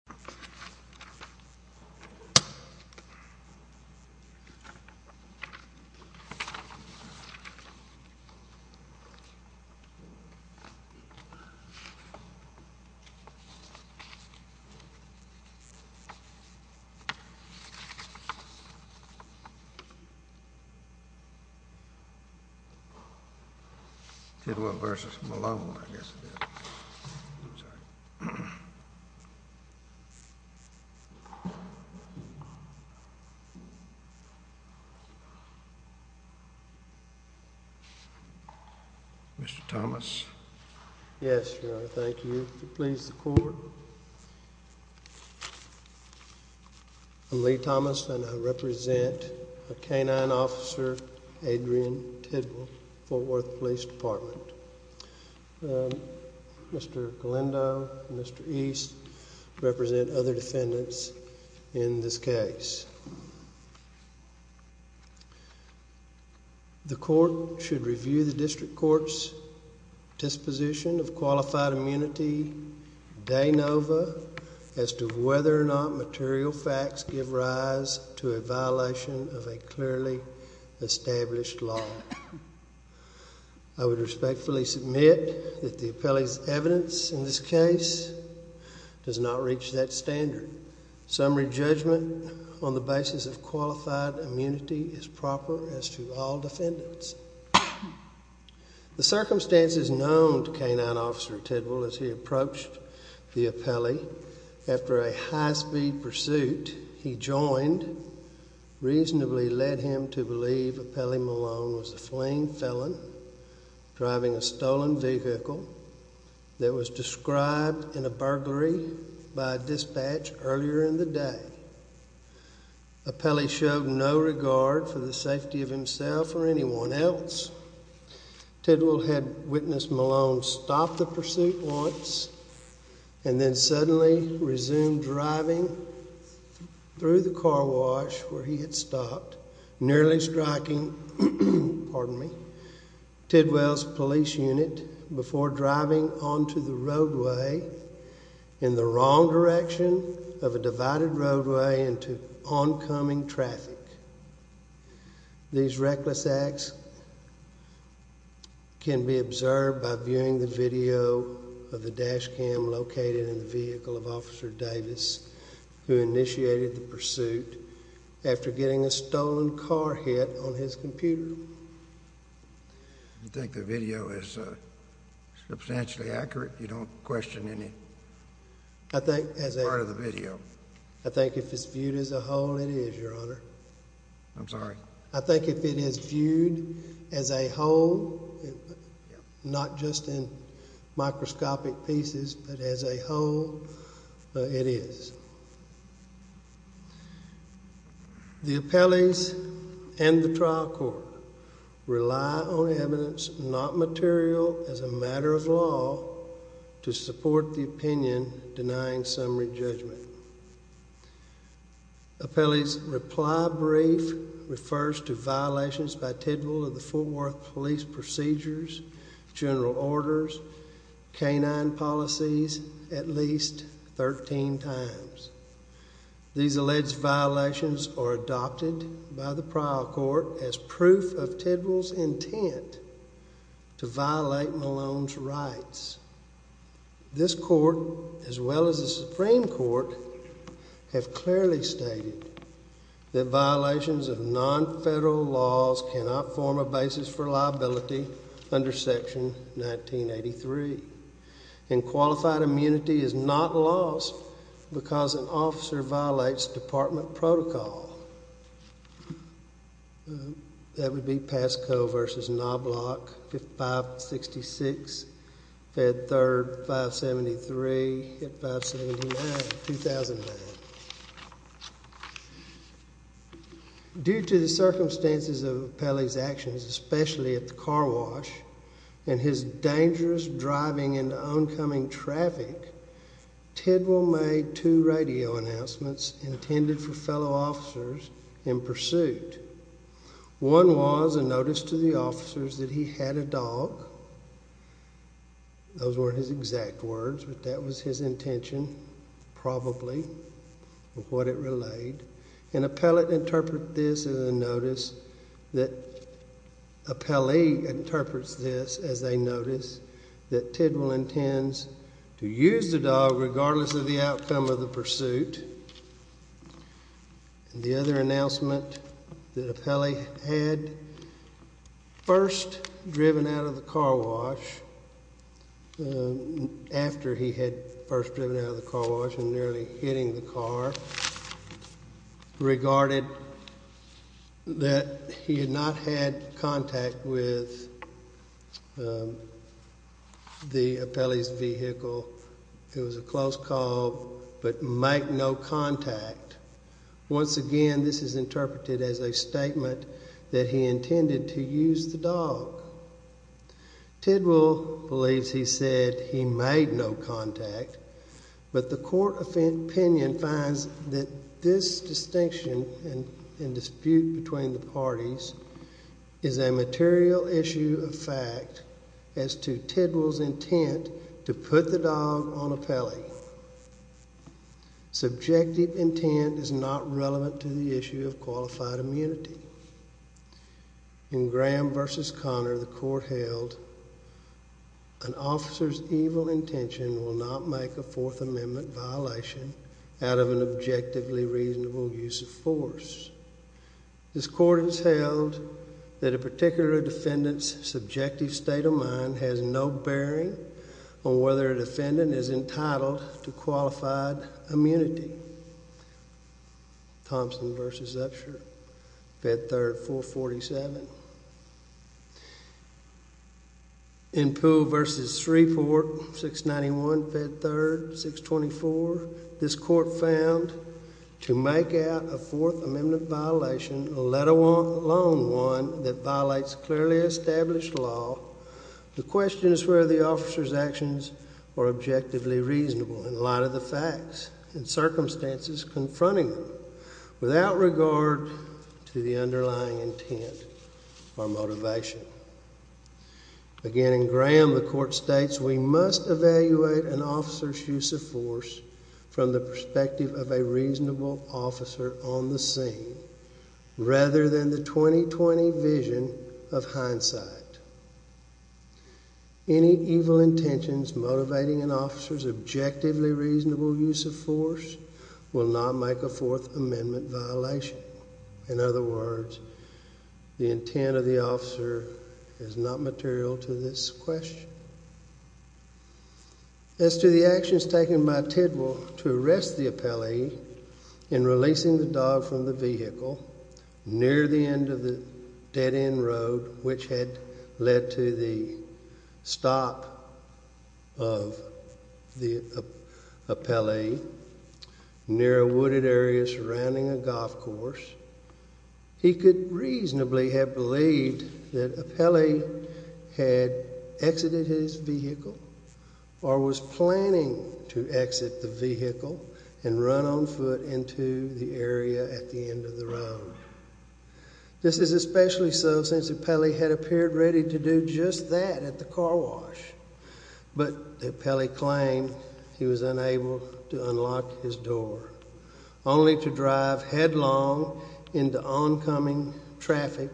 City of Fort Worth, Texas City of Fort Worth, Texas City of Fort Worth, Texas City of Fort Worth, Texas City of Fort Worth, Texas City of Fort Worth, Texas City of Fort Worth, Texas City of Fort Worth, Texas City of Fort Worth, Texas City of Fort Worth, Texas Due to the circumstances of Pelley's actions, especially at the car wash and his dangerous driving into oncoming traffic, Tidwell made two radio announcements intended for fellow officers in pursuit. One was a notice to the officers that he had a dog. Those weren't his exact words, but that was his intention, probably, of what it relayed. And Pelley interprets this as a notice that Tidwell intends to use the dog regardless of the outcome of the pursuit. The other announcement that Pelley had, first driven out of the car wash, after he had first driven out of the car wash and nearly hitting the car, regarded that he had not had contact with Pelley's vehicle. It was a close call, but make no contact. Once again, this is interpreted as a statement that he intended to use the dog. Tidwell believes he said he made no contact, but the court opinion finds that this distinction and dispute between the parties is a material issue of fact as to Tidwell's intent to put the dog on a Pelley. Subjective intent is not relevant to the issue of qualified immunity. In Graham v. Connor, the court held an officer's evil intention will not make a Fourth Amendment violation out of an objectively reasonable use of force. This court has held that a particular defendant's subjective state of mind has no bearing on whether a defendant is entitled to qualified immunity. Thompson v. Upshur, Fed Third, 447. In Poole v. Shreveport, 691, Fed Third, 624, this court found to make out a Fourth Amendment violation, let alone one that violates clearly established law, the question is whether the officer's actions were objectively reasonable in light of the facts and circumstances confronting them without regard to the underlying intent or motivation. Again, in Graham, the court states we must evaluate an officer's use of force from the perspective of a reasonable officer on the scene Any evil intentions motivating an officer's objectively reasonable use of force will not make a Fourth Amendment violation. In other words, the intent of the officer is not material to this question. As to the actions taken by Tidwell to arrest the appellee in releasing the dog from the vehicle near the end of the dead-end road which had led to the stop of the appellee near a wooded area surrounding a golf course, he could reasonably have believed that appellee had exited his vehicle or was planning to exit the vehicle and run on foot into the area at the end of the road. This is especially so since appellee had appeared ready to do just that at the car wash, but the appellee claimed he was unable to unlock his door, only to drive headlong into oncoming traffic.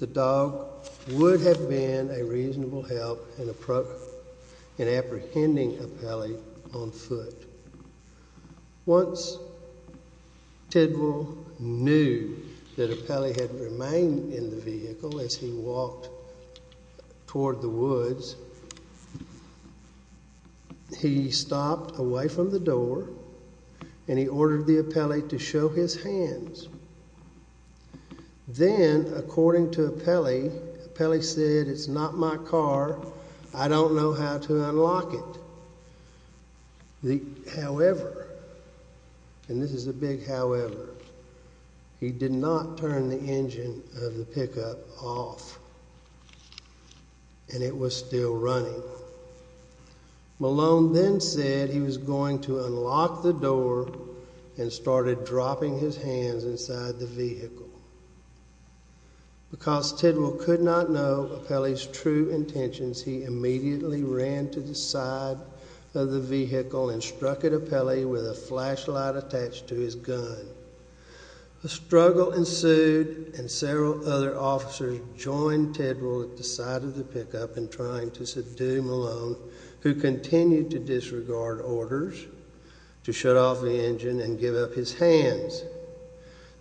The dog would have been a reasonable help in apprehending appellee on foot. Once Tidwell knew that appellee had remained in the vehicle as he walked toward the woods, he stopped away from the door and he ordered the appellee to show his hands. Then, according to appellee, appellee said, It's not my car. I don't know how to unlock it. However, and this is a big however, he did not turn the engine of the pickup off and it was still running. Malone then said he was going to unlock the door and started dropping his hands inside the vehicle. Because Tidwell could not know appellee's true intentions, he immediately ran to the side of the vehicle and struck at appellee with a flashlight attached to his gun. A struggle ensued and several other officers joined Tidwell at the side of the pickup in trying to subdue Malone, who continued to disregard orders to shut off the engine and give up his hands.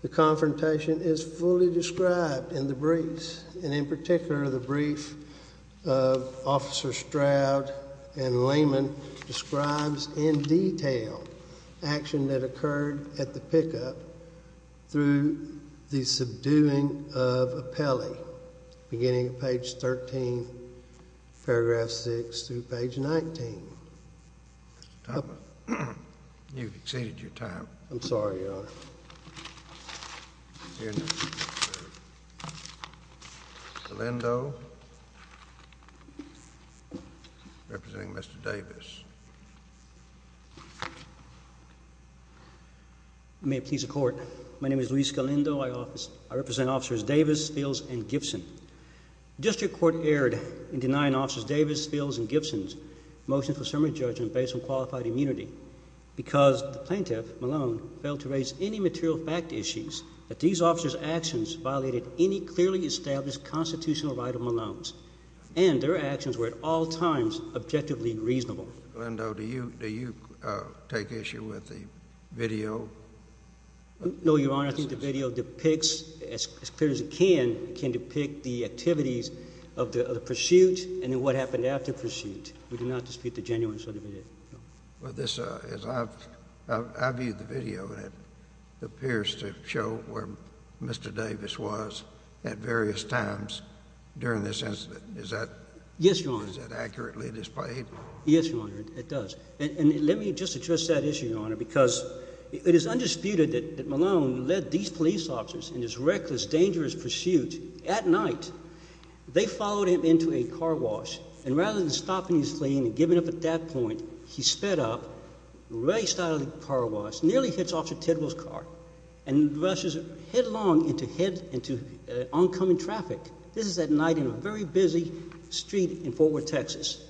The confrontation is fully described in the briefs and in particular the brief of Officer Stroud and Lehman describes in detail action that occurred at the pickup through the subduing of appellee beginning at page 13, paragraph 6 through page 19. You've exceeded your time. I'm sorry, Your Honor. Scalendo representing Mr. Davis. May it please the Court. My name is Luis Scalendo. I represent Officers Davis, Spills, and Gibson. District Court erred in denying Officers Davis, Spills, and Gibson's motion for summary judgment based on qualified immunity because the plaintiff, Malone, failed to raise any material fact issues that these officers' actions violated any clearly established constitutional right of Malone's and their actions were at all times objectively reasonable. Scalendo, do you take issue with the video? No, Your Honor. I think the video depicts as clear as it can, can depict the activities of the pursuit and then what happened after the pursuit. We do not dispute the genuineness of the video. Well, I viewed the video, and it appears to show where Mr. Davis was at various times during this incident. Is that accurately displayed? Yes, Your Honor, it does. And let me just address that issue, Your Honor, because it is undisputed that Malone led these police officers in this reckless, dangerous pursuit at night. They followed him into a car wash, and rather than stopping his plane and giving up at that point, he sped up, raced out of the car wash, nearly hit Officer Tittle's car, and rushed headlong into oncoming traffic. This is at night in a very busy street in Fort Worth, Texas.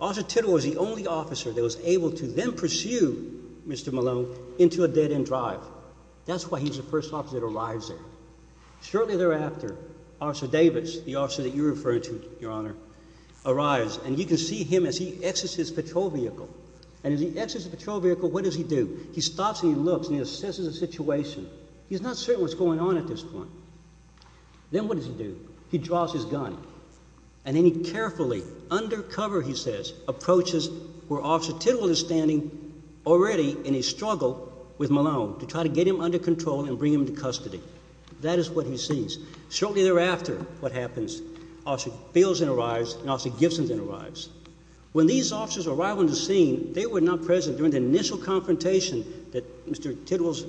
Officer Tittle was the only officer that was able to then pursue Mr. Malone into a dead-end drive. That's why he was the first officer that arrives there. Shortly thereafter, Officer Davis, the officer that you're referring to, Your Honor, arrives, and you can see him as he exits his patrol vehicle. And as he exits his patrol vehicle, what does he do? He stops and he looks and he assesses the situation. He's not certain what's going on at this point. Then what does he do? He draws his gun, and then he carefully, undercover, he says, approaches where Officer Tittle is standing, already in a struggle with Malone to try to get him under control and bring him into custody. That is what he sees. Shortly thereafter, what happens? Officer Fields then arrives, and Officer Gibson then arrives. When these officers arrive on the scene, they were not present during the initial confrontation that Mr. Tittle's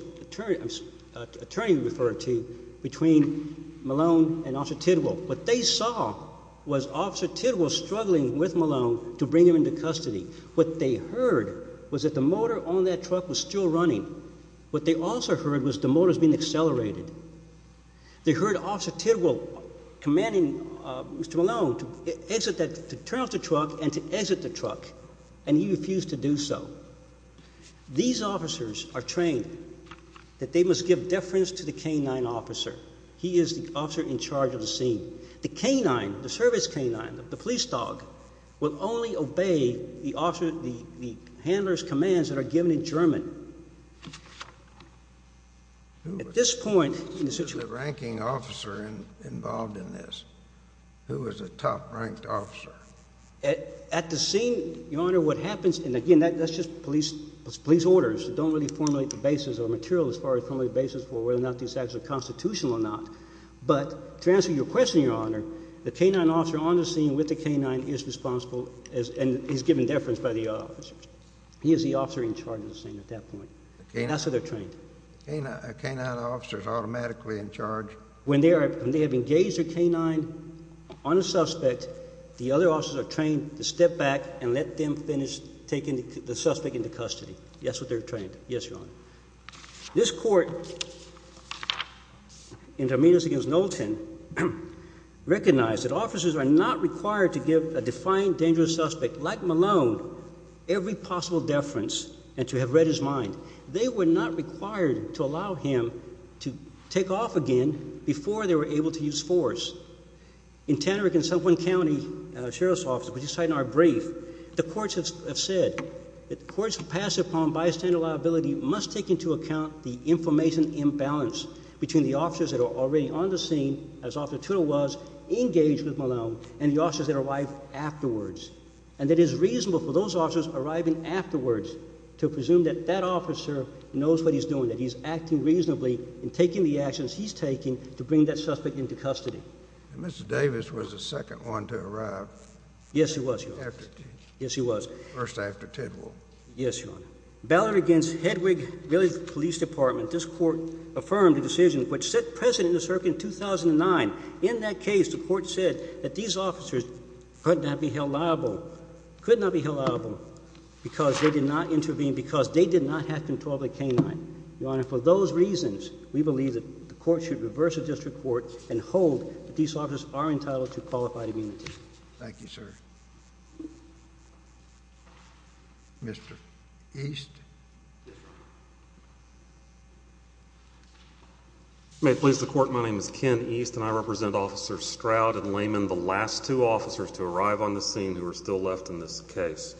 attorney referred to between Malone and Officer Tittle. What they saw was Officer Tittle struggling with Malone to bring him into custody. What they heard was that the motor on that truck was still running. What they also heard was the motor was being accelerated. They heard Officer Tittle commanding Mr. Malone to turn off the truck and to exit the truck, and he refused to do so. These officers are trained that they must give deference to the canine officer. He is the officer in charge of the scene. The canine, the service canine, the police dog, will only obey the handler's commands that are given in German. At this point... Who was the ranking officer involved in this? Who was the top-ranked officer? At the scene, Your Honor, what happens, and again, that's just police orders. We don't really formulate the basis or material as far as formulating the basis for whether or not these acts are constitutional or not. But to answer your question, Your Honor, the canine officer on the scene with the canine is responsible, and he's given deference by the officer. He is the officer in charge of the scene at that point. That's what they're trained. A canine officer is automatically in charge. When they have engaged a canine on a suspect, the other officers are trained to step back and let them finish taking the suspect into custody. That's what they're trained. Yes, Your Honor. This court, in Dominguez v. Knowlton, recognized that officers are not required to give a defiant, dangerous suspect like Malone every possible deference and to have read his mind. They were not required to allow him to take off again before they were able to use force. In Tannerick and Suffolk County Sheriff's Office, which is cited in our brief, the courts have said that the courts who pass upon bystander liability must take into account the information imbalance between the officers that are already on the scene, as Officer Tudor was, engaged with Malone, and the officers that arrive afterwards, and that it is reasonable for those officers arriving afterwards to presume that that officer knows what he's doing, that he's acting reasonably in taking the actions he's taking to bring that suspect into custody. And Mr. Davis was the second one to arrive. Yes, he was, Your Honor. First after Tidwell. Yes, Your Honor. Ballot against Hedwig Village Police Department, this court affirmed the decision which set precedent in the circuit in 2009. In that case, the court said that these officers could not be held liable, could not be held liable because they did not intervene, because they did not have control of the canine. Your Honor, for those reasons, we believe that the court should reverse the district court and hold that these officers are entitled to qualified immunity. Thank you, sir. Mr. East. May it please the Court, my name is Ken East, and I represent Officers Stroud and Layman, the last two officers to arrive on the scene who are still left in this case.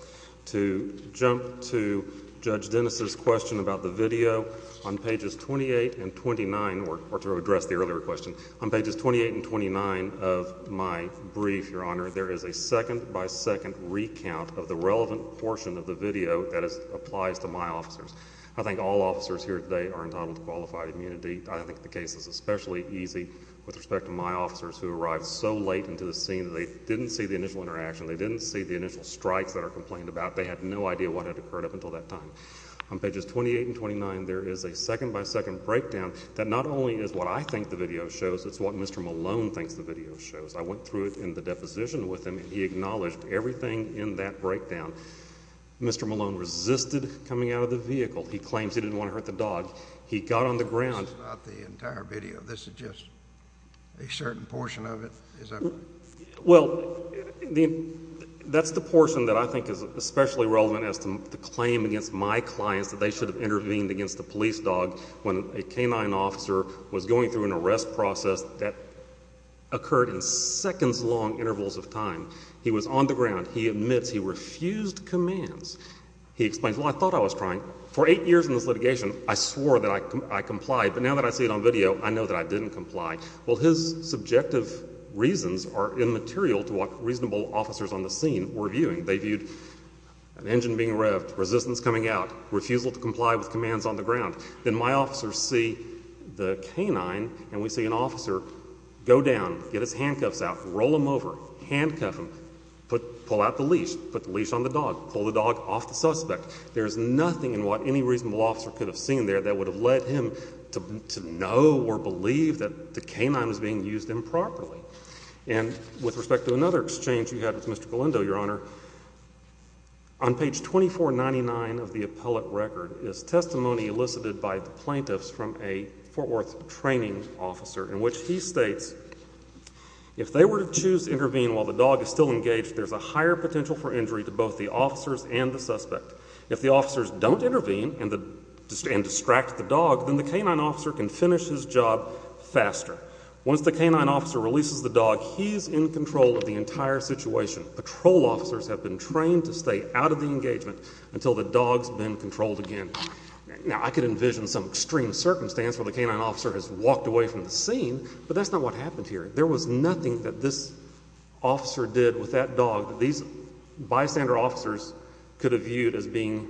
To jump to Judge Dennis' question about the video, on pages 28 and 29, or to address the earlier question, on pages 28 and 29 of my brief, Your Honor, there is a second-by-second recount of the relevant portion of the video that applies to my officers. I think all officers here today are entitled to qualified immunity. I think the case is especially easy with respect to my officers who arrived so late into the scene that they didn't see the initial interaction, they didn't see the initial strikes that are complained about. They had no idea what had occurred up until that time. On pages 28 and 29, there is a second-by-second breakdown that not only is what I think the video shows, it's what Mr. Malone thinks the video shows. I went through it in the deposition with him, and he acknowledged everything in that breakdown. Mr. Malone resisted coming out of the vehicle. He claims he didn't want to hurt the dog. He got on the ground. This is not the entire video. This is just a certain portion of it. Well, that's the portion that I think is especially relevant as to the claim against my clients that they should have intervened against a police dog when a canine officer was going through an arrest process that occurred in seconds-long intervals of time. He was on the ground. He admits he refused commands. He explains, well, I thought I was trying. For eight years in this litigation, I swore that I complied. But now that I see it on video, I know that I didn't comply. Well, his subjective reasons are immaterial to what reasonable officers on the scene were viewing. They viewed an engine being revved, resistance coming out, refusal to comply with commands on the ground. Then my officers see the canine, and we see an officer go down, get his handcuffs out, roll him over, handcuff him, pull out the leash, put the leash on the dog, pull the dog off the suspect. There's nothing in what any reasonable officer could have seen there that would have led him to know or believe that the canine was being used improperly. And with respect to another exchange you had with Mr. Galindo, Your Honor, on page 2499 of the appellate record is testimony elicited by the plaintiffs from a Fort Worth training officer, in which he states, if they were to choose to intervene while the dog is still engaged, there's a higher potential for injury to both the officers and the suspect. If the officers don't intervene and distract the dog, then the canine officer can finish his job faster. Once the canine officer releases the dog, he's in control of the entire situation. Patrol officers have been trained to stay out of the engagement until the dog's been controlled again. Now, I could envision some extreme circumstance where the canine officer has walked away from the scene, but that's not what happened here. There was nothing that this officer did with that dog that these bystander officers could have viewed as being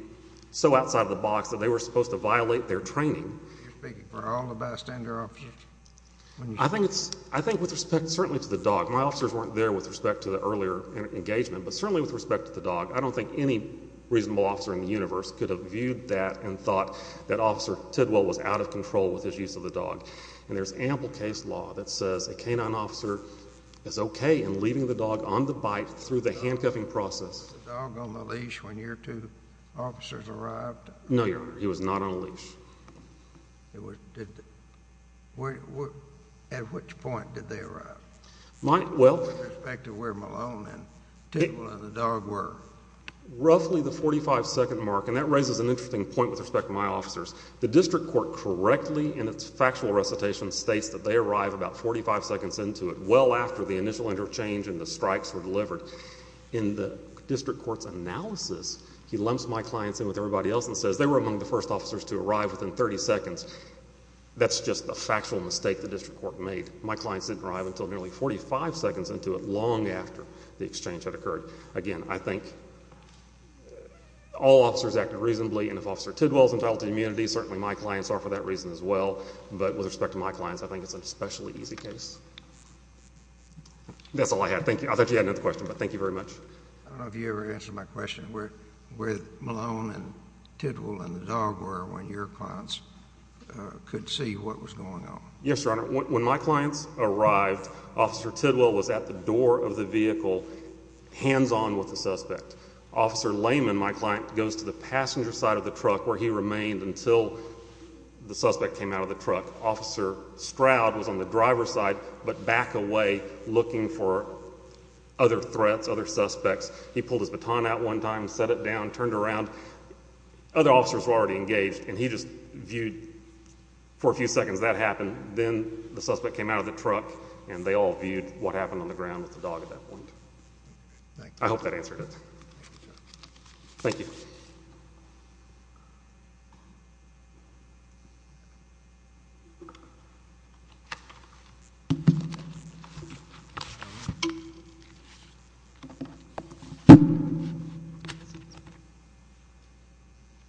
so outside of the box that they were supposed to violate their training. You're speaking for all the bystander officers? I think with respect certainly to the dog. My officers weren't there with respect to the earlier engagement, but certainly with respect to the dog, I don't think any reasonable officer in the universe could have viewed that and thought that Officer Tidwell was out of control with his use of the dog. And there's ample case law that says a canine officer is okay in leaving the dog on the bite through the handcuffing process. Was the dog on the leash when your two officers arrived? No, Your Honor, he was not on a leash. At which point did they arrive? With respect to where Malone and Tidwell and the dog were. Roughly the 45-second mark, and that raises an interesting point with respect to my officers. The district court correctly in its factual recitation states that they arrived about 45 seconds into it, well after the initial interchange and the strikes were delivered. In the district court's analysis, he lumps my clients in with everybody else and says they were among the first officers to arrive within 30 seconds. That's just the factual mistake the district court made. My clients didn't arrive until nearly 45 seconds into it, long after the exchange had occurred. Again, I think all officers acted reasonably, and if Officer Tidwell is entitled to immunity, certainly my clients are for that reason as well. But with respect to my clients, I think it's an especially easy case. That's all I had. I thought you had another question, but thank you very much. Have you ever answered my question where Malone and Tidwell and the dog were when your clients could see what was going on? Yes, Your Honor. When my clients arrived, Officer Tidwell was at the door of the vehicle, hands-on with the suspect. Officer Lehman, my client, goes to the passenger side of the truck where he remained until the suspect came out of the truck. Officer Stroud was on the driver's side but back away looking for other threats, other suspects. He pulled his baton out one time, set it down, turned around. Other officers were already engaged, and he just viewed for a few seconds that happened. Then the suspect came out of the truck, and they all viewed what happened on the ground with the dog at that point. I hope that answered it. Thank you.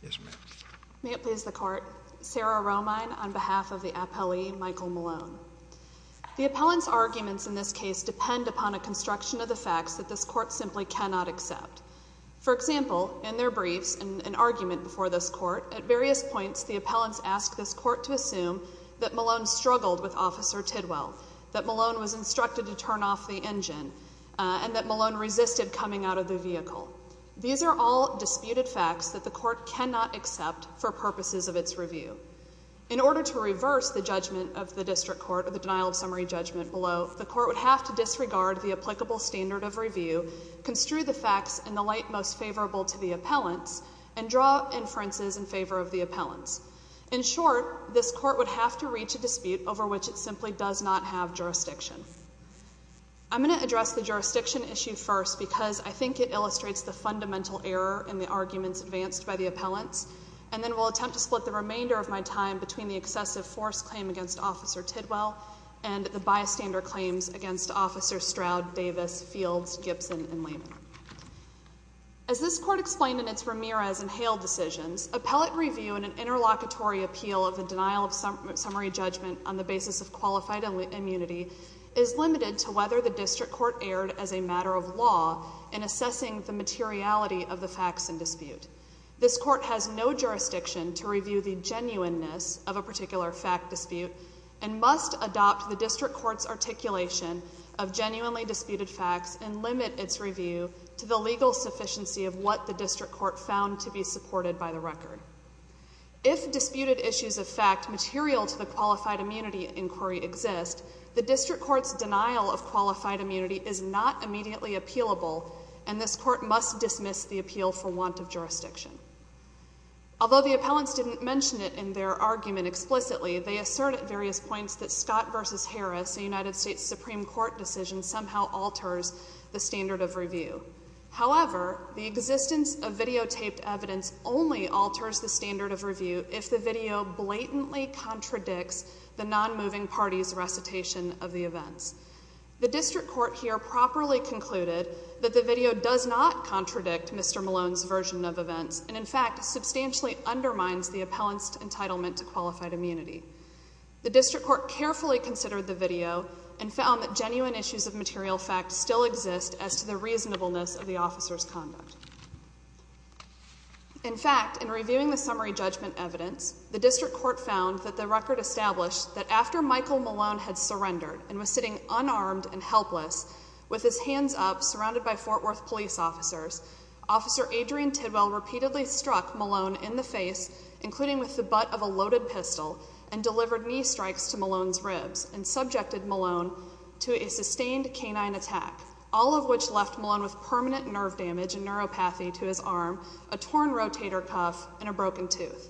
Yes, ma'am. May it please the Court. Sarah Romine on behalf of the appellee, Michael Malone. The appellant's arguments in this case depend upon a construction of the facts that this Court simply cannot accept. For example, in their briefs, depend on a construction of the facts that this Court simply cannot accept. At various points, the appellants ask this Court to assume that Malone struggled with Officer Tidwell, that Malone was instructed to turn off the engine, and that Malone resisted coming out of the vehicle. These are all disputed facts that the Court cannot accept for purposes of its review. In order to reverse the judgment of the District Court or the denial of summary judgment below, the Court would have to disregard the applicable standard of review, construe the facts in the light most favorable to the appellants, and draw inferences in favor of the appellants. In short, this Court would have to reach a dispute over which it simply does not have jurisdiction. I'm going to address the jurisdiction issue first because I think it illustrates the fundamental error in the arguments advanced by the appellants, and then we'll attempt to split the remainder of my time between the excessive force claim against Officer Tidwell and the bystander claims against Officers Stroud, Davis, Fields, Gibson, and Lehman. As this Court explained in its Ramirez and Hale decisions, appellate review in an interlocutory appeal of the denial of summary judgment on the basis of qualified immunity is limited to whether the District Court erred as a matter of law in assessing the materiality of the facts in dispute. This Court has no jurisdiction to review the genuineness of a particular fact dispute and must adopt the District Court's articulation of genuinely disputed facts and limit its review to the legal sufficiency of what the District Court found to be supported by the record. If disputed issues of fact material to the qualified immunity inquiry exist, the District Court's denial of qualified immunity is not immediately appealable, and this Court must dismiss the appeal for want of jurisdiction. Although the appellants didn't mention it in their argument explicitly, they assert at various points that Scott v. Harris, a United States Supreme Court decision, somehow alters the standard of review. However, the existence of videotaped evidence only alters the standard of review if the video blatantly contradicts the nonmoving party's recitation of the events. The District Court here properly concluded that the video does not contradict Mr. Malone's version of events and, in fact, substantially undermines the appellant's entitlement to qualified immunity. The District Court carefully considered the video and found that genuine issues of material fact still exist as to the reasonableness of the officer's conduct. In fact, in reviewing the summary judgment evidence, the District Court found that the record established that after Michael Malone had surrendered and was sitting unarmed and helpless with his hands up, surrounded by Fort Worth police officers, Officer Adrian Tidwell repeatedly struck Malone in the face, and delivered knee strikes to Malone's ribs and subjected Malone to a sustained canine attack, all of which left Malone with permanent nerve damage and neuropathy to his arm, a torn rotator cuff, and a broken tooth.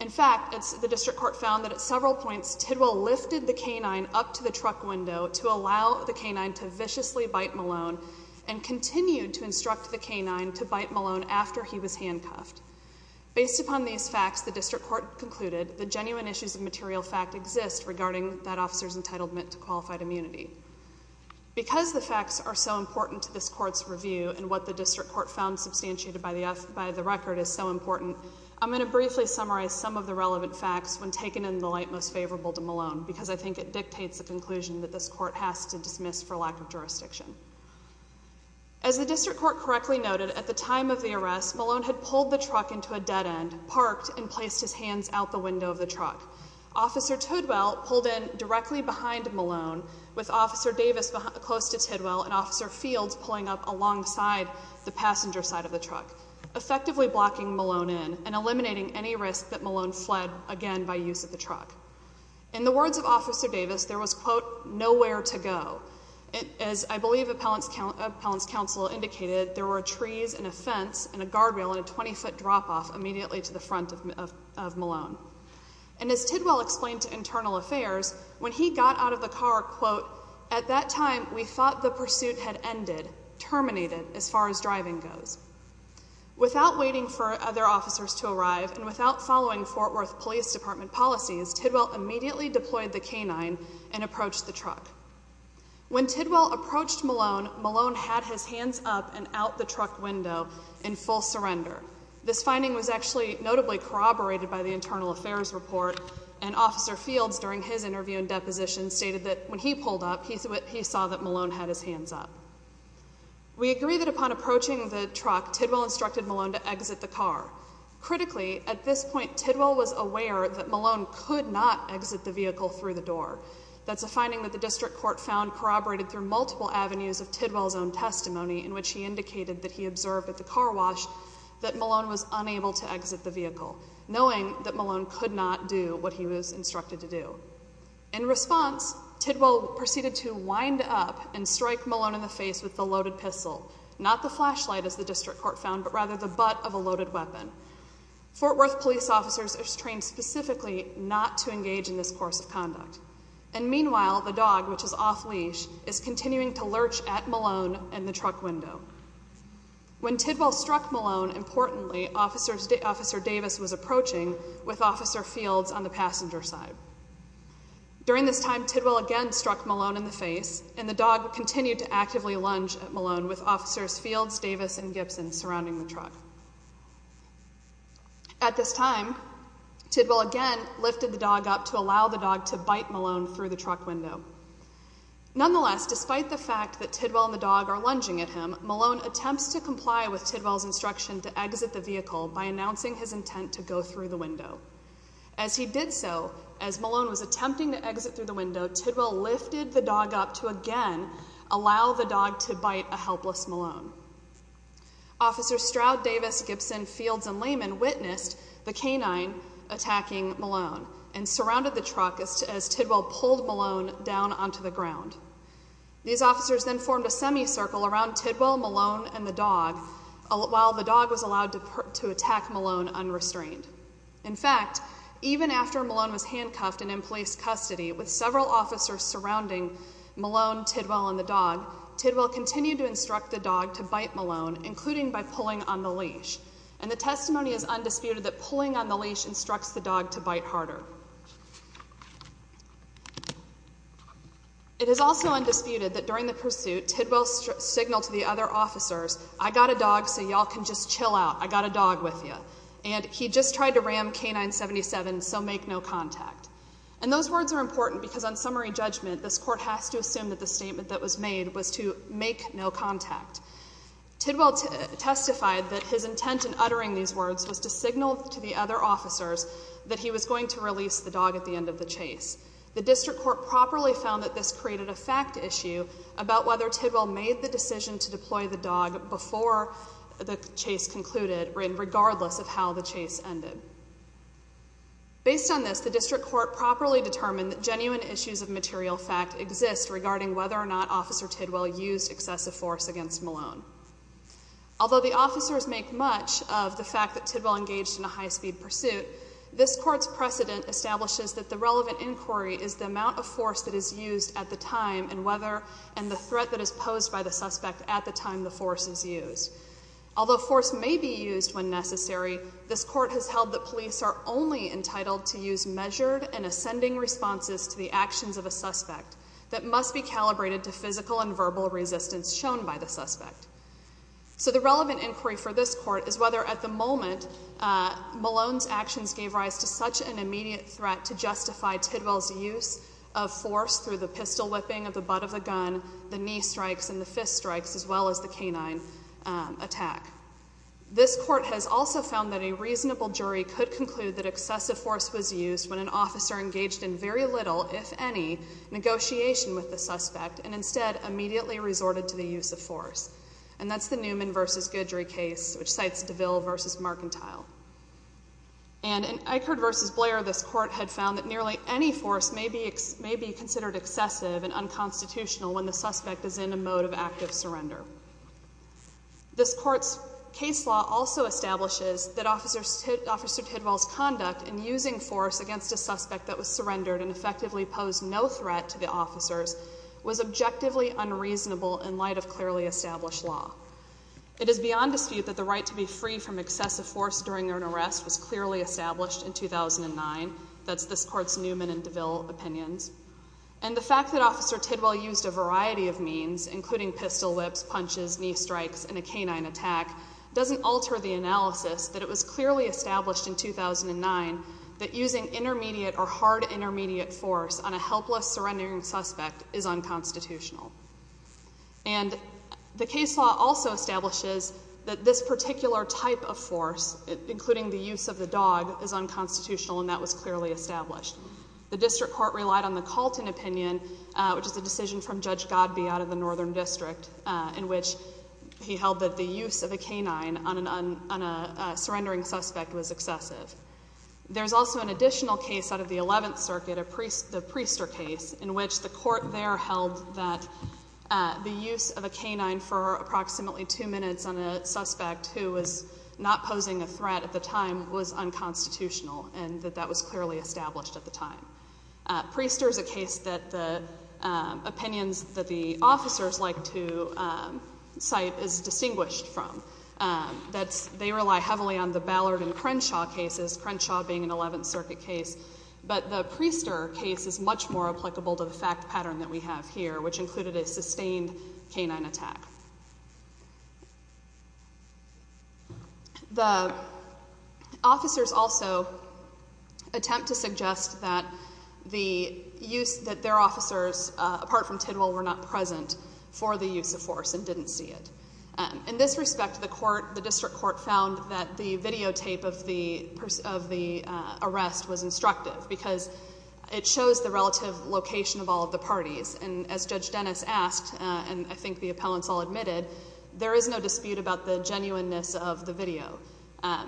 In fact, the District Court found that at several points, Tidwell lifted the canine up to the truck window to allow the canine to viciously bite Malone and continued to instruct the canine to bite Malone after he was handcuffed. Based upon these facts, the District Court concluded that genuine issues of material fact exist regarding that officer's entitlement to qualified immunity. Because the facts are so important to this court's review and what the District Court found substantiated by the record is so important, I'm going to briefly summarize some of the relevant facts when taken in the light most favorable to Malone, because I think it dictates the conclusion that this court has to dismiss for lack of jurisdiction. As the District Court correctly noted, at the time of the arrest, Malone had pulled the truck into a dead end, parked, and placed his hands out the window of the truck. Officer Tidwell pulled in directly behind Malone, with Officer Davis close to Tidwell and Officer Fields pulling up alongside the passenger side of the truck, effectively blocking Malone in and eliminating any risk that Malone fled again by use of the truck. In the words of Officer Davis, there was, quote, nowhere to go. As I believe Appellant's counsel indicated, there were trees and a fence and a guardrail and a 20-foot drop-off immediately to the front of Malone. And as Tidwell explained to Internal Affairs, when he got out of the car, quote, at that time we thought the pursuit had ended, terminated, as far as driving goes. Without waiting for other officers to arrive and without following Fort Worth Police Department policies, Tidwell immediately deployed the canine and approached the truck. When Tidwell approached Malone, Malone had his hands up and out the truck window in full surrender. This finding was actually notably corroborated by the Internal Affairs report, and Officer Fields, during his interview and deposition, stated that when he pulled up, he saw that Malone had his hands up. We agree that upon approaching the truck, Tidwell instructed Malone to exit the car. Critically, at this point, Tidwell was aware that Malone could not exit the vehicle through the door. That's a finding that the district court found corroborated through multiple avenues of Tidwell's own testimony, in which he indicated that he observed at the car wash that Malone was unable to exit the vehicle, knowing that Malone could not do what he was instructed to do. In response, Tidwell proceeded to wind up and strike Malone in the face with the loaded pistol, not the flashlight, as the district court found, but rather the butt of a loaded weapon. Fort Worth police officers are trained specifically not to engage in this course of conduct. And meanwhile, the dog, which is off-leash, is continuing to lurch at Malone in the truck window. When Tidwell struck Malone, importantly, Officer Davis was approaching with Officer Fields on the passenger side. During this time, Tidwell again struck Malone in the face, and the dog continued to actively lunge at Malone with Officers Fields, Davis, and Gibson surrounding the truck. At this time, Tidwell again lifted the dog up to allow the dog to bite Malone through the truck window. Nonetheless, despite the fact that Tidwell and the dog are lunging at him, Malone attempts to comply with Tidwell's instruction to exit the vehicle by announcing his intent to go through the window. As he did so, as Malone was attempting to exit through the window, Tidwell lifted the dog up to again allow the dog to bite a helpless Malone. Officers Stroud, Davis, Gibson, Fields, and Lehman witnessed the canine attacking Malone and surrounded the truck as Tidwell pulled Malone down onto the ground. These officers then formed a semicircle around Tidwell, Malone, and the dog while the dog was allowed to attack Malone unrestrained. In fact, even after Malone was handcuffed and in police custody, with several officers surrounding Malone, Tidwell, and the dog, Tidwell continued to instruct the dog to bite Malone, including by pulling on the leash. And the testimony is undisputed that pulling on the leash instructs the dog to bite harder. It is also undisputed that during the pursuit, Tidwell signaled to the other officers, I got a dog so y'all can just chill out. I got a dog with ya. And he just tried to ram K-977, so make no contact. And those words are important because on summary judgment, this court has to assume that the statement that was made was to make no contact. Tidwell testified that his intent in uttering these words was to signal to the other officers that he was going to release the dog at the end of the chase. The district court properly found that this created a fact issue about whether Tidwell made the decision to deploy the dog before the chase concluded, regardless of how the chase ended. Based on this, the district court properly determined that genuine issues of material fact exist regarding whether or not Officer Tidwell used excessive force against Malone. Although the officers make much of the fact that Tidwell engaged in a high-speed pursuit, this court's precedent establishes that the relevant inquiry is the amount of force that is used at the time in whether and the threat that is posed by the suspect at the time the force is used. Although force may be used when necessary, this court has held that police are only entitled to use measured and ascending responses to the actions of a suspect that must be calibrated to physical and verbal resistance shown by the suspect. So the relevant inquiry for this court is whether at the moment Malone's actions gave rise to such an immediate threat to justify Tidwell's use of force through the pistol whipping of the butt of the gun, the knee strikes and the fist strikes, as well as the canine attack. This court has also found that a reasonable jury could conclude that excessive force was used when an officer engaged in very little, if any, negotiation with the suspect and instead immediately resorted to the use of force. And that's the Newman v. Goodry case, which cites DeVille v. Markentile. And in Eichert v. Blair, this court had found that nearly any force may be considered excessive and unconstitutional when the suspect is in a mode of active surrender. This court's case law also establishes that Officer Tidwell's conduct in using force against a suspect that was surrendered and effectively posed no threat to the officers was objectively unreasonable in light of clearly established law. It is beyond dispute that the right to be free from excessive force during an arrest was clearly established in 2009. That's this court's Newman and DeVille opinions. And the fact that Officer Tidwell used a variety of means, including pistol whips, punches, knee strikes, and a canine attack, doesn't alter the analysis that it was clearly established in 2009 that using intermediate or hard intermediate force on a helpless surrendering suspect is unconstitutional. And the case law also establishes that this particular type of force, including the use of the dog, is unconstitutional, and that was clearly established. The district court relied on the Calton opinion, which is a decision from Judge Godbey out of the Northern District, in which he held that the use of a canine on a surrendering suspect was excessive. There's also an additional case out of the 11th Circuit, the Priester case, in which the court there held that the use of a canine for approximately two minutes on a suspect who was not posing a threat at the time was unconstitutional, and that that was clearly established at the time. Priester is a case that the opinions that the officers like to cite is distinguished from. They rely heavily on the Ballard and Crenshaw cases, Crenshaw being an 11th Circuit case, but the Priester case is much more applicable to the fact pattern that we have here, which included a sustained canine attack. The officers also attempt to suggest that their officers, apart from Tidwell, were not present for the use of force and didn't see it. In this respect, the district court found that the videotape of the arrest was instructive because it shows the relative location of all of the parties, and as Judge Dennis asked, and I think the appellants all admitted, there is no dispute about the genuineness of the video.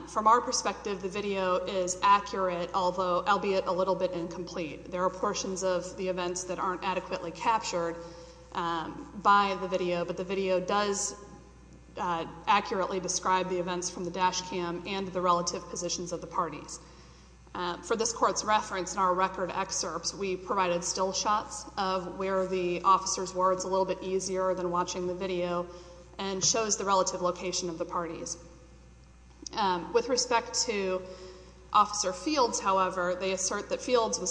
From our perspective, the video is accurate, albeit a little bit incomplete. There are portions of the events that aren't adequately captured by the video, but the video does accurately describe the events from the dash cam and the relative positions of the parties. For this court's reference, in our record excerpts, we provided still shots of where the officers were. It's a little bit easier than watching the video and shows the relative location of the parties. With respect to Officer Fields, however, they assert that Fields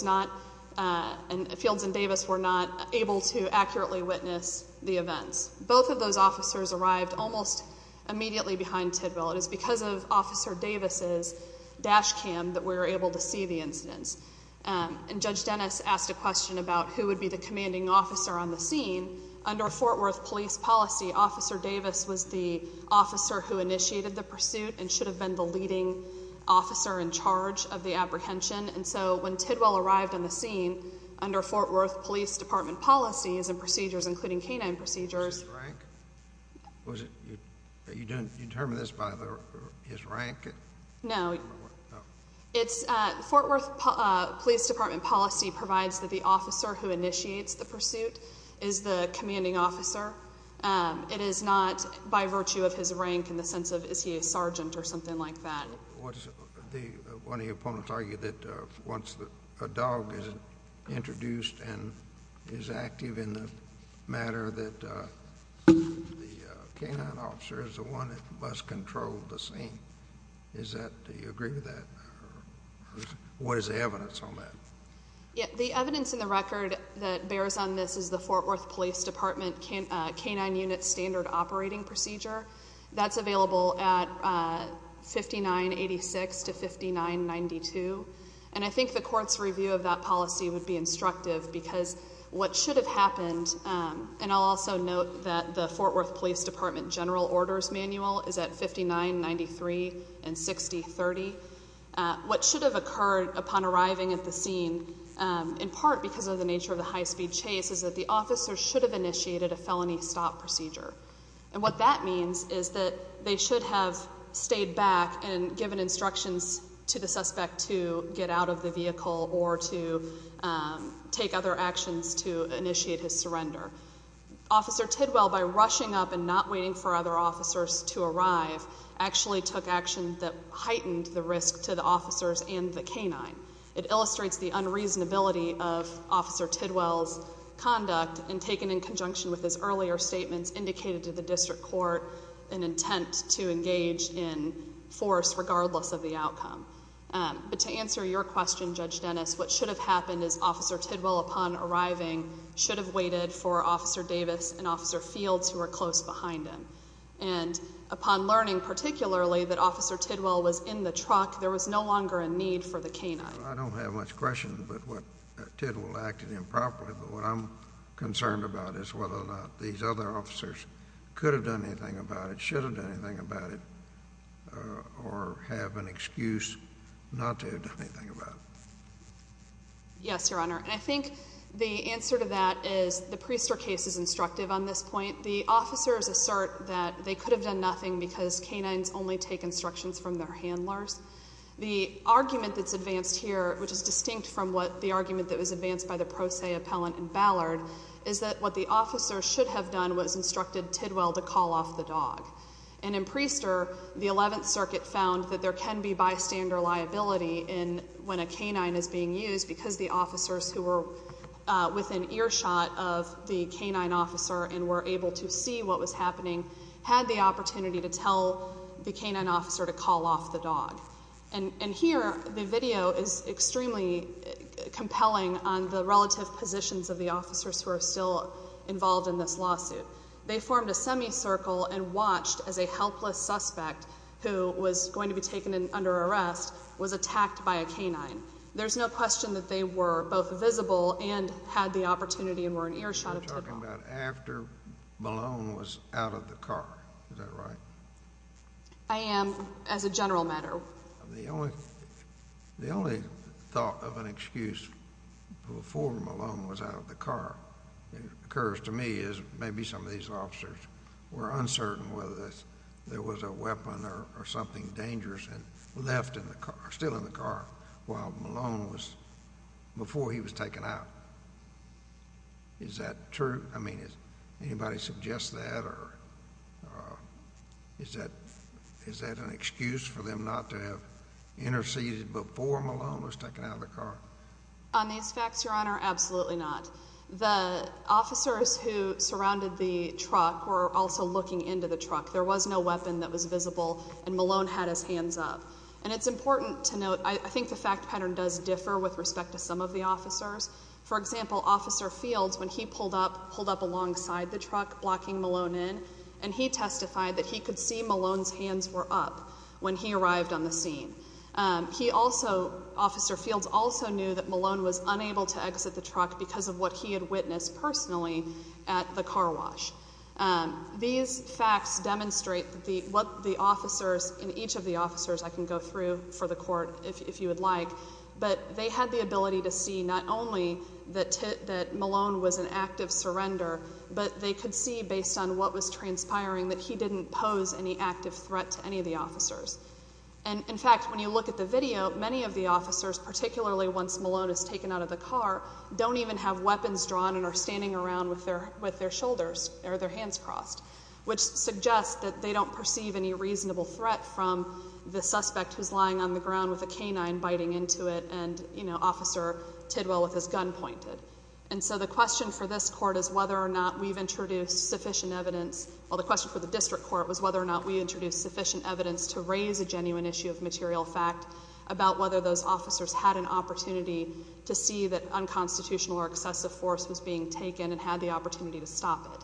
and Davis were not able to accurately witness the events. Both of those officers arrived almost immediately behind Tidwell. It is because of Officer Davis's dash cam that we were able to see the incidents, and Judge Dennis asked a question about who would be the commanding officer on the scene. Under Fort Worth Police policy, Officer Davis was the officer who initiated the pursuit and should have been the leading officer in charge of the apprehension, and so when Tidwell arrived on the scene, under Fort Worth Police Department policies and procedures, including canine procedures... Was it his rank? Was it... Did you determine this by his rank? No. Fort Worth Police Department policy provides that the officer who initiates the pursuit is the commanding officer. It is not by virtue of his rank in the sense of is he a sergeant or something like that. One of your opponents argued that once a dog is introduced and is active in the matter, that the canine officer is the one that must control the scene. Do you agree with that? What is the evidence on that? The evidence in the record that bears on this is the Fort Worth Police Department canine unit standard operating procedure. That's available at 5986 to 5992. And I think the court's review of that policy would be instructive because what should have happened, and I'll also note that the Fort Worth Police Department general orders manual is at 5993 and 6030. What should have occurred upon arriving at the scene, in part because of the nature of the high-speed chase, is that the officer should have initiated a felony stop procedure. And what that means is that they should have stayed back and given instructions to the suspect to get out of the vehicle or to take other actions to initiate his surrender. Officer Tidwell, by rushing up and not waiting for other officers to arrive, actually took action that heightened the risk to the officers and the canine. It illustrates the unreasonability of Officer Tidwell's conduct and taken in conjunction with his earlier statements indicated to the district court an intent to engage in force regardless of the outcome. But to answer your question, Judge Dennis, what should have happened is Officer Tidwell, upon arriving, should have waited for Officer Davis and Officer Fields, who were close behind him. And upon learning particularly that Officer Tidwell was in the truck, there was no longer a need for the canine. I don't have much question about what Tidwell acted improperly, but what I'm concerned about is whether or not these other officers could have done anything about it, should have done anything about it, or have an excuse not to have done anything about it. Yes, Your Honor. And I think the answer to that is the Priester case is instructive on this point. The officers assert that they could have done nothing because canines only take instructions from their handlers. The argument that's advanced here, which is distinct from the argument that was advanced by the Pro Se Appellant in Ballard, is that what the officers should have done was instructed Tidwell to call off the dog. And in Priester, the Eleventh Circuit found that there can be bystander liability when a canine is being used because the officers who were within earshot of the canine officer and were able to see what was happening had the opportunity to tell the canine officer to call off the dog. And here, the video is extremely compelling on the relative positions of the officers who are still involved in this lawsuit. They formed a semicircle and watched as a helpless suspect, who was going to be taken under arrest, was attacked by a canine. There's no question that they were both visible and had the opportunity and were in earshot of Tidwell. You're talking about after Malone was out of the car. Is that right? I am, as a general matter. The only thought of an excuse before Malone was out of the car occurs to me is maybe some of these officers were uncertain whether there was a weapon or something dangerous left in the car, still in the car, while Malone was before he was taken out. Is that true? I mean, anybody suggest that or is that an excuse for them not to have interceded before Malone was taken out of the car? On these facts, Your Honor, absolutely not. The officers who surrounded the truck were also looking into the truck. There was no weapon that was visible and Malone had his hands up. And it's important to note, I think the fact pattern does differ with respect to some of the officers. For example, Officer Fields, when he pulled up, pulled up alongside the truck, blocking Malone in, and he testified that he could see Malone's hands were up when he arrived on the scene. He also, Officer Fields also knew that Malone was unable to exit the truck because of what he had witnessed personally at the car wash. These facts demonstrate what the officers, and each of the witnesses, if you would like, but they had the ability to see not only that Malone was an active surrender, but they could see based on what was transpiring that he didn't pose any active threat to any of the officers. And, in fact, when you look at the video, many of the officers, particularly once Malone is taken out of the car, don't even have weapons drawn and are standing around with their shoulders or their hands crossed, which suggests that they don't perceive any reasonable threat from the suspect who's lying on the ground with a canine biting into it and, you know, Officer Tidwell with his gun pointed. And so the question for this court is whether or not we've introduced sufficient evidence, well the question for the district court was whether or not we introduced sufficient evidence to raise a genuine issue of material fact about whether those officers had an opportunity to see that unconstitutional or excessive force was being taken and had the opportunity to stop it.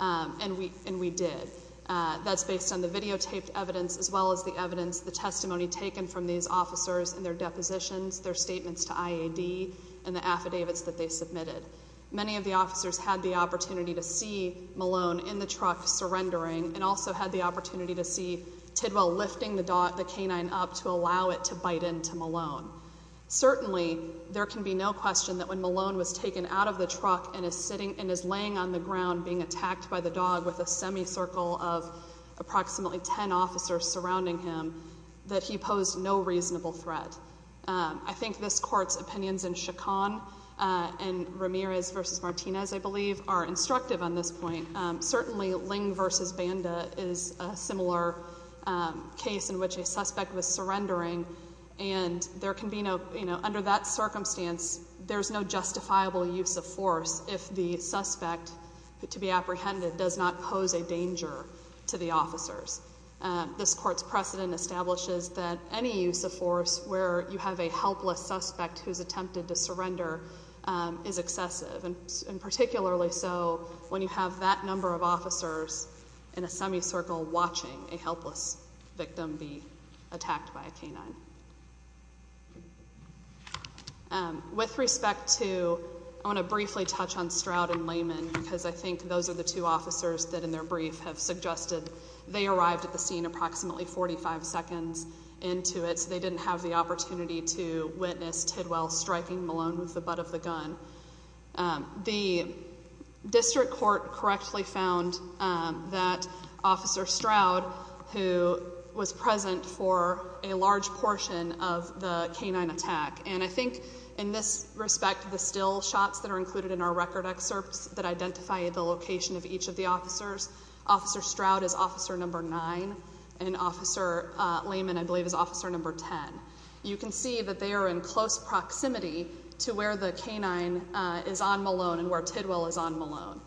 And we did. That's based on the testimony taken from these officers and their depositions, their statements to IAD and the affidavits that they submitted. Many of the officers had the opportunity to see Malone in the truck surrendering and also had the opportunity to see Tidwell lifting the canine up to allow it to bite into Malone. Certainly, there can be no question that when Malone was taken out of the truck and is laying on the ground being attacked by the dog with a semicircle of approximately ten officers surrounding him that he posed no reasonable threat. I think this court's opinions in Chacon and Ramirez v. Martinez, I believe, are instructive on this point. Certainly Ling v. Banda is a similar case in which a suspect was surrendering and there can be no, you know, under that circumstance, there's no justifiable use of force if the suspect, to be apprehended, does not pose a danger to the officers. This court's precedent establishes that any use of force where you have a helpless suspect who's attempted to surrender is excessive and particularly so when you have that number of officers in a semicircle watching a helpless victim be attacked by a canine. With respect to I want to briefly touch on Stroud and Lehman because I think those are the two officers that in their brief have suggested they arrived at the scene approximately 45 seconds into it so they didn't have the opportunity to witness Tidwell striking Malone with the butt of the gun. The district court correctly found that Officer Stroud who was present for a large portion of the canine attack and I think in this respect the still shots that are included in our record excerpts that identify the location of each of the officers. Officer Stroud is officer number 9 and Officer Lehman I believe is officer number 10. You can see that they are in close proximity to where the canine is on Malone and where Tidwell is on Malone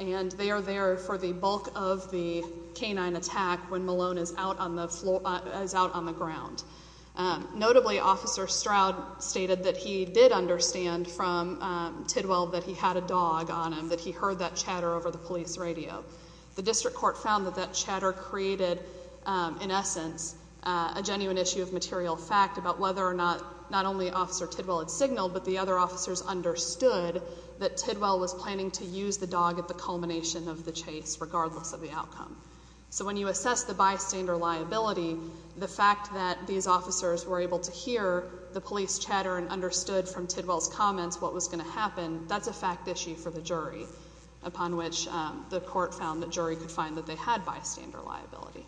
and they are there for the bulk of the canine attack when Malone is out on the floor on the ground. Notably, Officer Stroud stated that he did understand from Tidwell that he had a dog on him, that he heard that chatter over the police radio. The district court found that that chatter created in essence a genuine issue of material fact about whether or not not only Officer Tidwell had signaled but the other officers understood that Tidwell was planning to use the dog at the culmination of the chase regardless of the outcome. When you assess the bystander liability the fact that these officers were able to hear the police comments, what was going to happen, that's a fact issue for the jury upon which the court found that jury could find that they had bystander liability.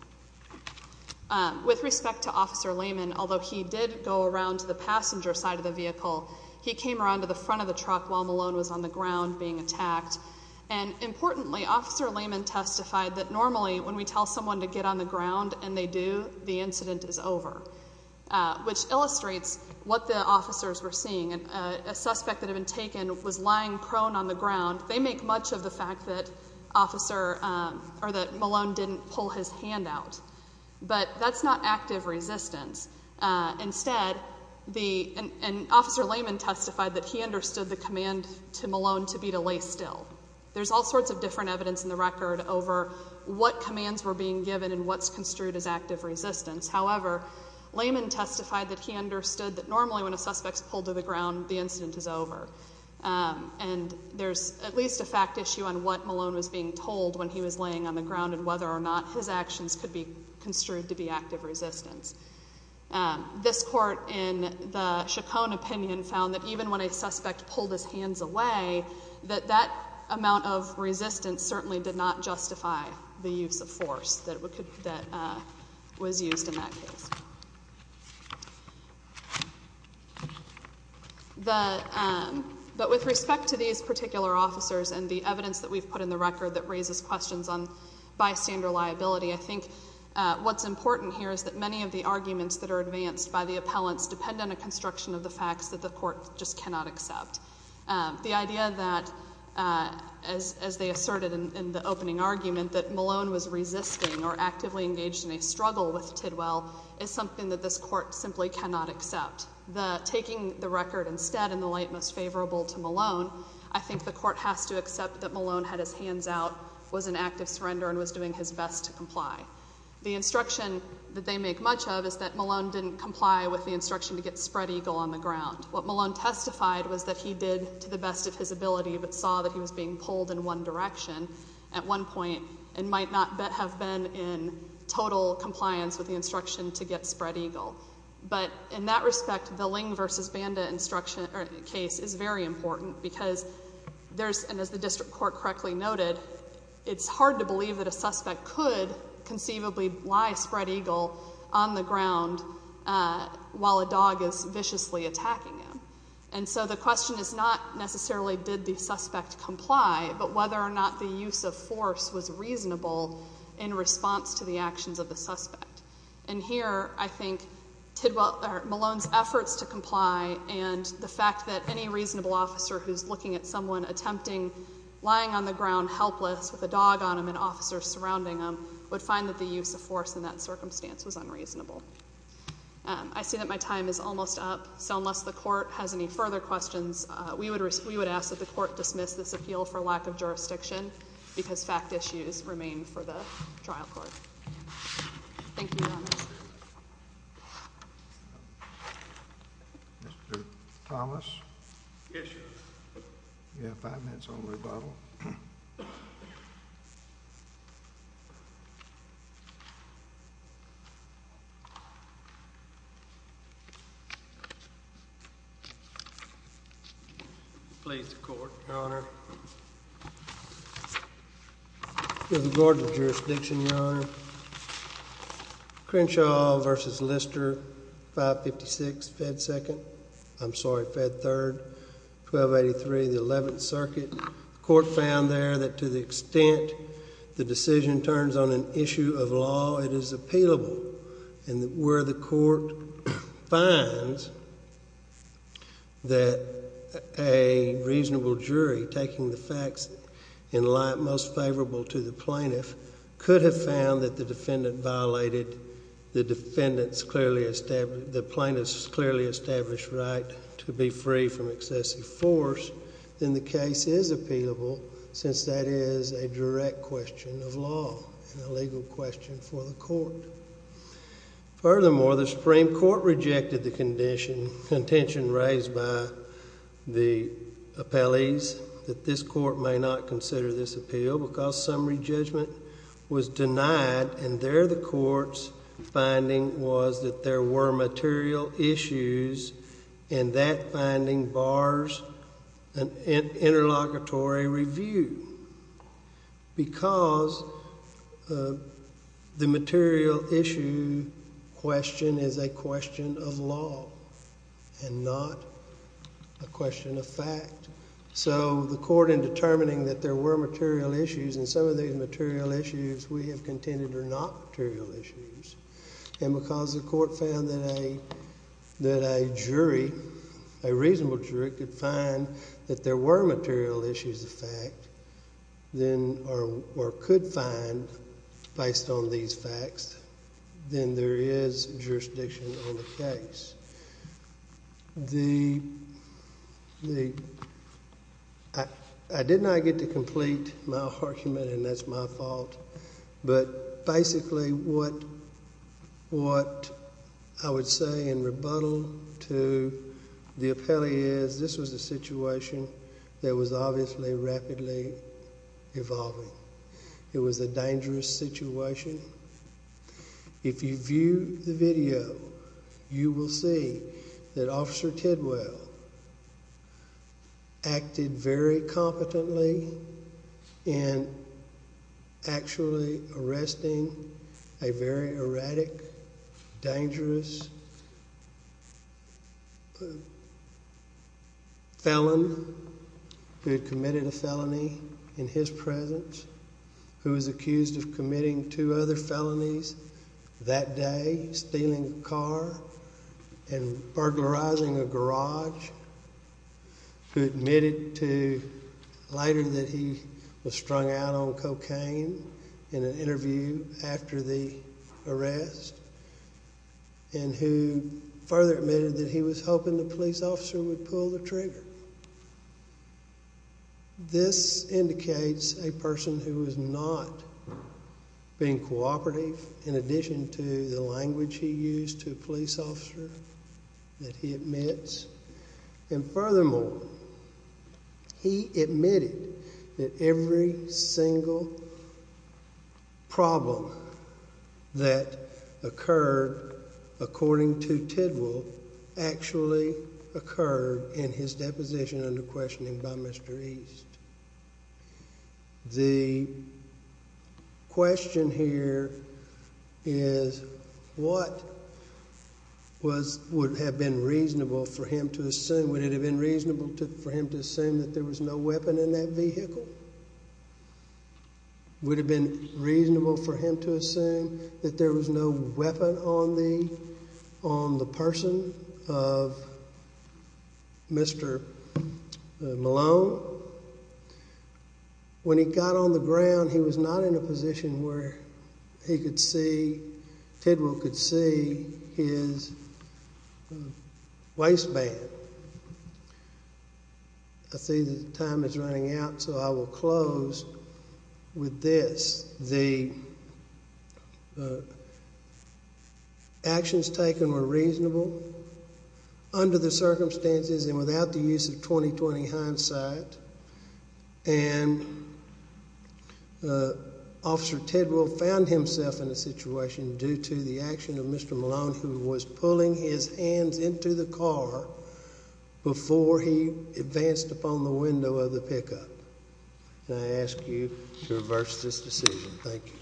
With respect to Officer Lehman, although he did go around to the passenger side of the vehicle he came around to the front of the truck while Malone was on the ground being attacked and importantly, Officer Lehman testified that normally when we tell someone to get on the ground and they do the incident is over. Which illustrates what the officers were seeing. A suspect that had been taken was lying prone on the ground. They make much of the fact that Malone didn't pull his hand out. But that's not active resistance. Instead Officer Lehman testified that he understood the command to Malone to be to lay still. There's all sorts of different evidence in the record over what commands were being given and what's construed as active resistance. However, Lehman testified that he understood that normally when a suspect is pulled to the ground, the incident is over. And there's at least a fact issue on what Malone was being told when he was laying on the ground and whether or not his actions could be construed to be active resistance. This court in the Chacon opinion found that even when a suspect pulled his hands away, that that amount of resistance certainly did not justify the use of force that was used in that case. But with respect to these particular officers and the evidence that we've put in the record that raises questions on bystander liability, I think what's important here is that many of the arguments that are advanced by the appellants depend on a construction of the facts that the court just cannot accept. The idea that as they asserted in the opening argument that Malone was resisting or actively engaged in a struggle with Tidwell is something that this court simply cannot accept. Taking the record instead in the light most favorable to Malone, I think the court has to accept that Malone had his hands out, was in active surrender, and was doing his best to comply. The instruction that they make much of is that Malone didn't comply with the instruction to get Spread Eagle on the ground. What Malone testified was that he did to the best of his ability but saw that he was being pulled in one direction at one time in total compliance with the instruction to get Spread Eagle. In that respect, the Ling v. Banda case is very important because there's, and as the district court correctly noted, it's hard to believe that a suspect could conceivably lie Spread Eagle on the ground while a dog is viciously attacking him. The question is not necessarily did the suspect comply but whether or not the use of force was reasonable in response to the actions of the suspect. Here, I think Malone's efforts to comply and the fact that any reasonable officer who's looking at someone attempting lying on the ground helpless with a dog on him and officers surrounding him would find that the use of force in that circumstance was unreasonable. I see that my time is almost up, so unless the court has any further questions, we would ask that the court dismiss this appeal for lack of jurisdiction because fact issues remain for the trial court. Thank you, Your Honor. Mr. Thomas? Yes, Your Honor. You have five minutes on rebuttal. Your Honor. Please, the court. Your Honor. With regard to jurisdiction, Your Honor, Crenshaw v. Lister, 556 Fed 2nd, I'm sorry Fed 3rd, 1283 the 11th Circuit. The court found there that to the extent the decision turns on an issue of law, it is appealable. And where the court finds that a reasonable jury taking the facts in light most favorable to the plaintiff could have found that the defendant violated the defendant's clearly established, the plaintiff's clearly established right to be then the case is appealable since that is a direct question of law and a legal question for the court. Furthermore, the Supreme Court rejected the contention raised by the appellees that this court may not consider this appeal because summary judgment was denied and there the court's finding was that there were material issues and that finding bars an interlocutory review because the material issue question is a question of law and not a question of fact. So the court in determining that there were material issues and some of these material issues we have contended are not material issues and because the court found that a jury, a reasonable jury could find that there were material issues of fact then or could find based on these facts then there is jurisdiction on the case. The the I did not get to complete my argument and that's my fault but basically what what I would say in rebuttal to the appellee is this was a situation that was obviously rapidly evolving. It was a dangerous situation. If you view the video you will see that Officer Tidwell acted very competently in actually arresting a very dangerous felon who had committed a felony in his presence who was accused of committing two other felonies that day, stealing a car and burglarizing a garage who admitted to later that he was strung out on cocaine in an interview after the arrest and who further admitted that he was hoping the police officer would pull the trigger. This indicates a person who was not being cooperative in addition to the language he used to a police officer that he admits and furthermore he admitted that every single problem that occurred according to Tidwell actually occurred in his deposition under questioning by Mr. East. The question here is what would have been reasonable for him to assume that there was no weapon in that vehicle? Would have been reasonable for him to assume that there was no weapon on the person of Mr. Malone? When he got on the ground he was not in a position where he could see Tidwell could see his waistband. I see time is running out so I will close with this. The actions taken were reasonable under the circumstances and without the use of 20-20 hindsight and Officer Tidwell found himself in a situation due to the action of Mr. Malone who was pulling his hands into the car before he advanced upon the window of the pickup. I ask you to reverse this decision. Thank you.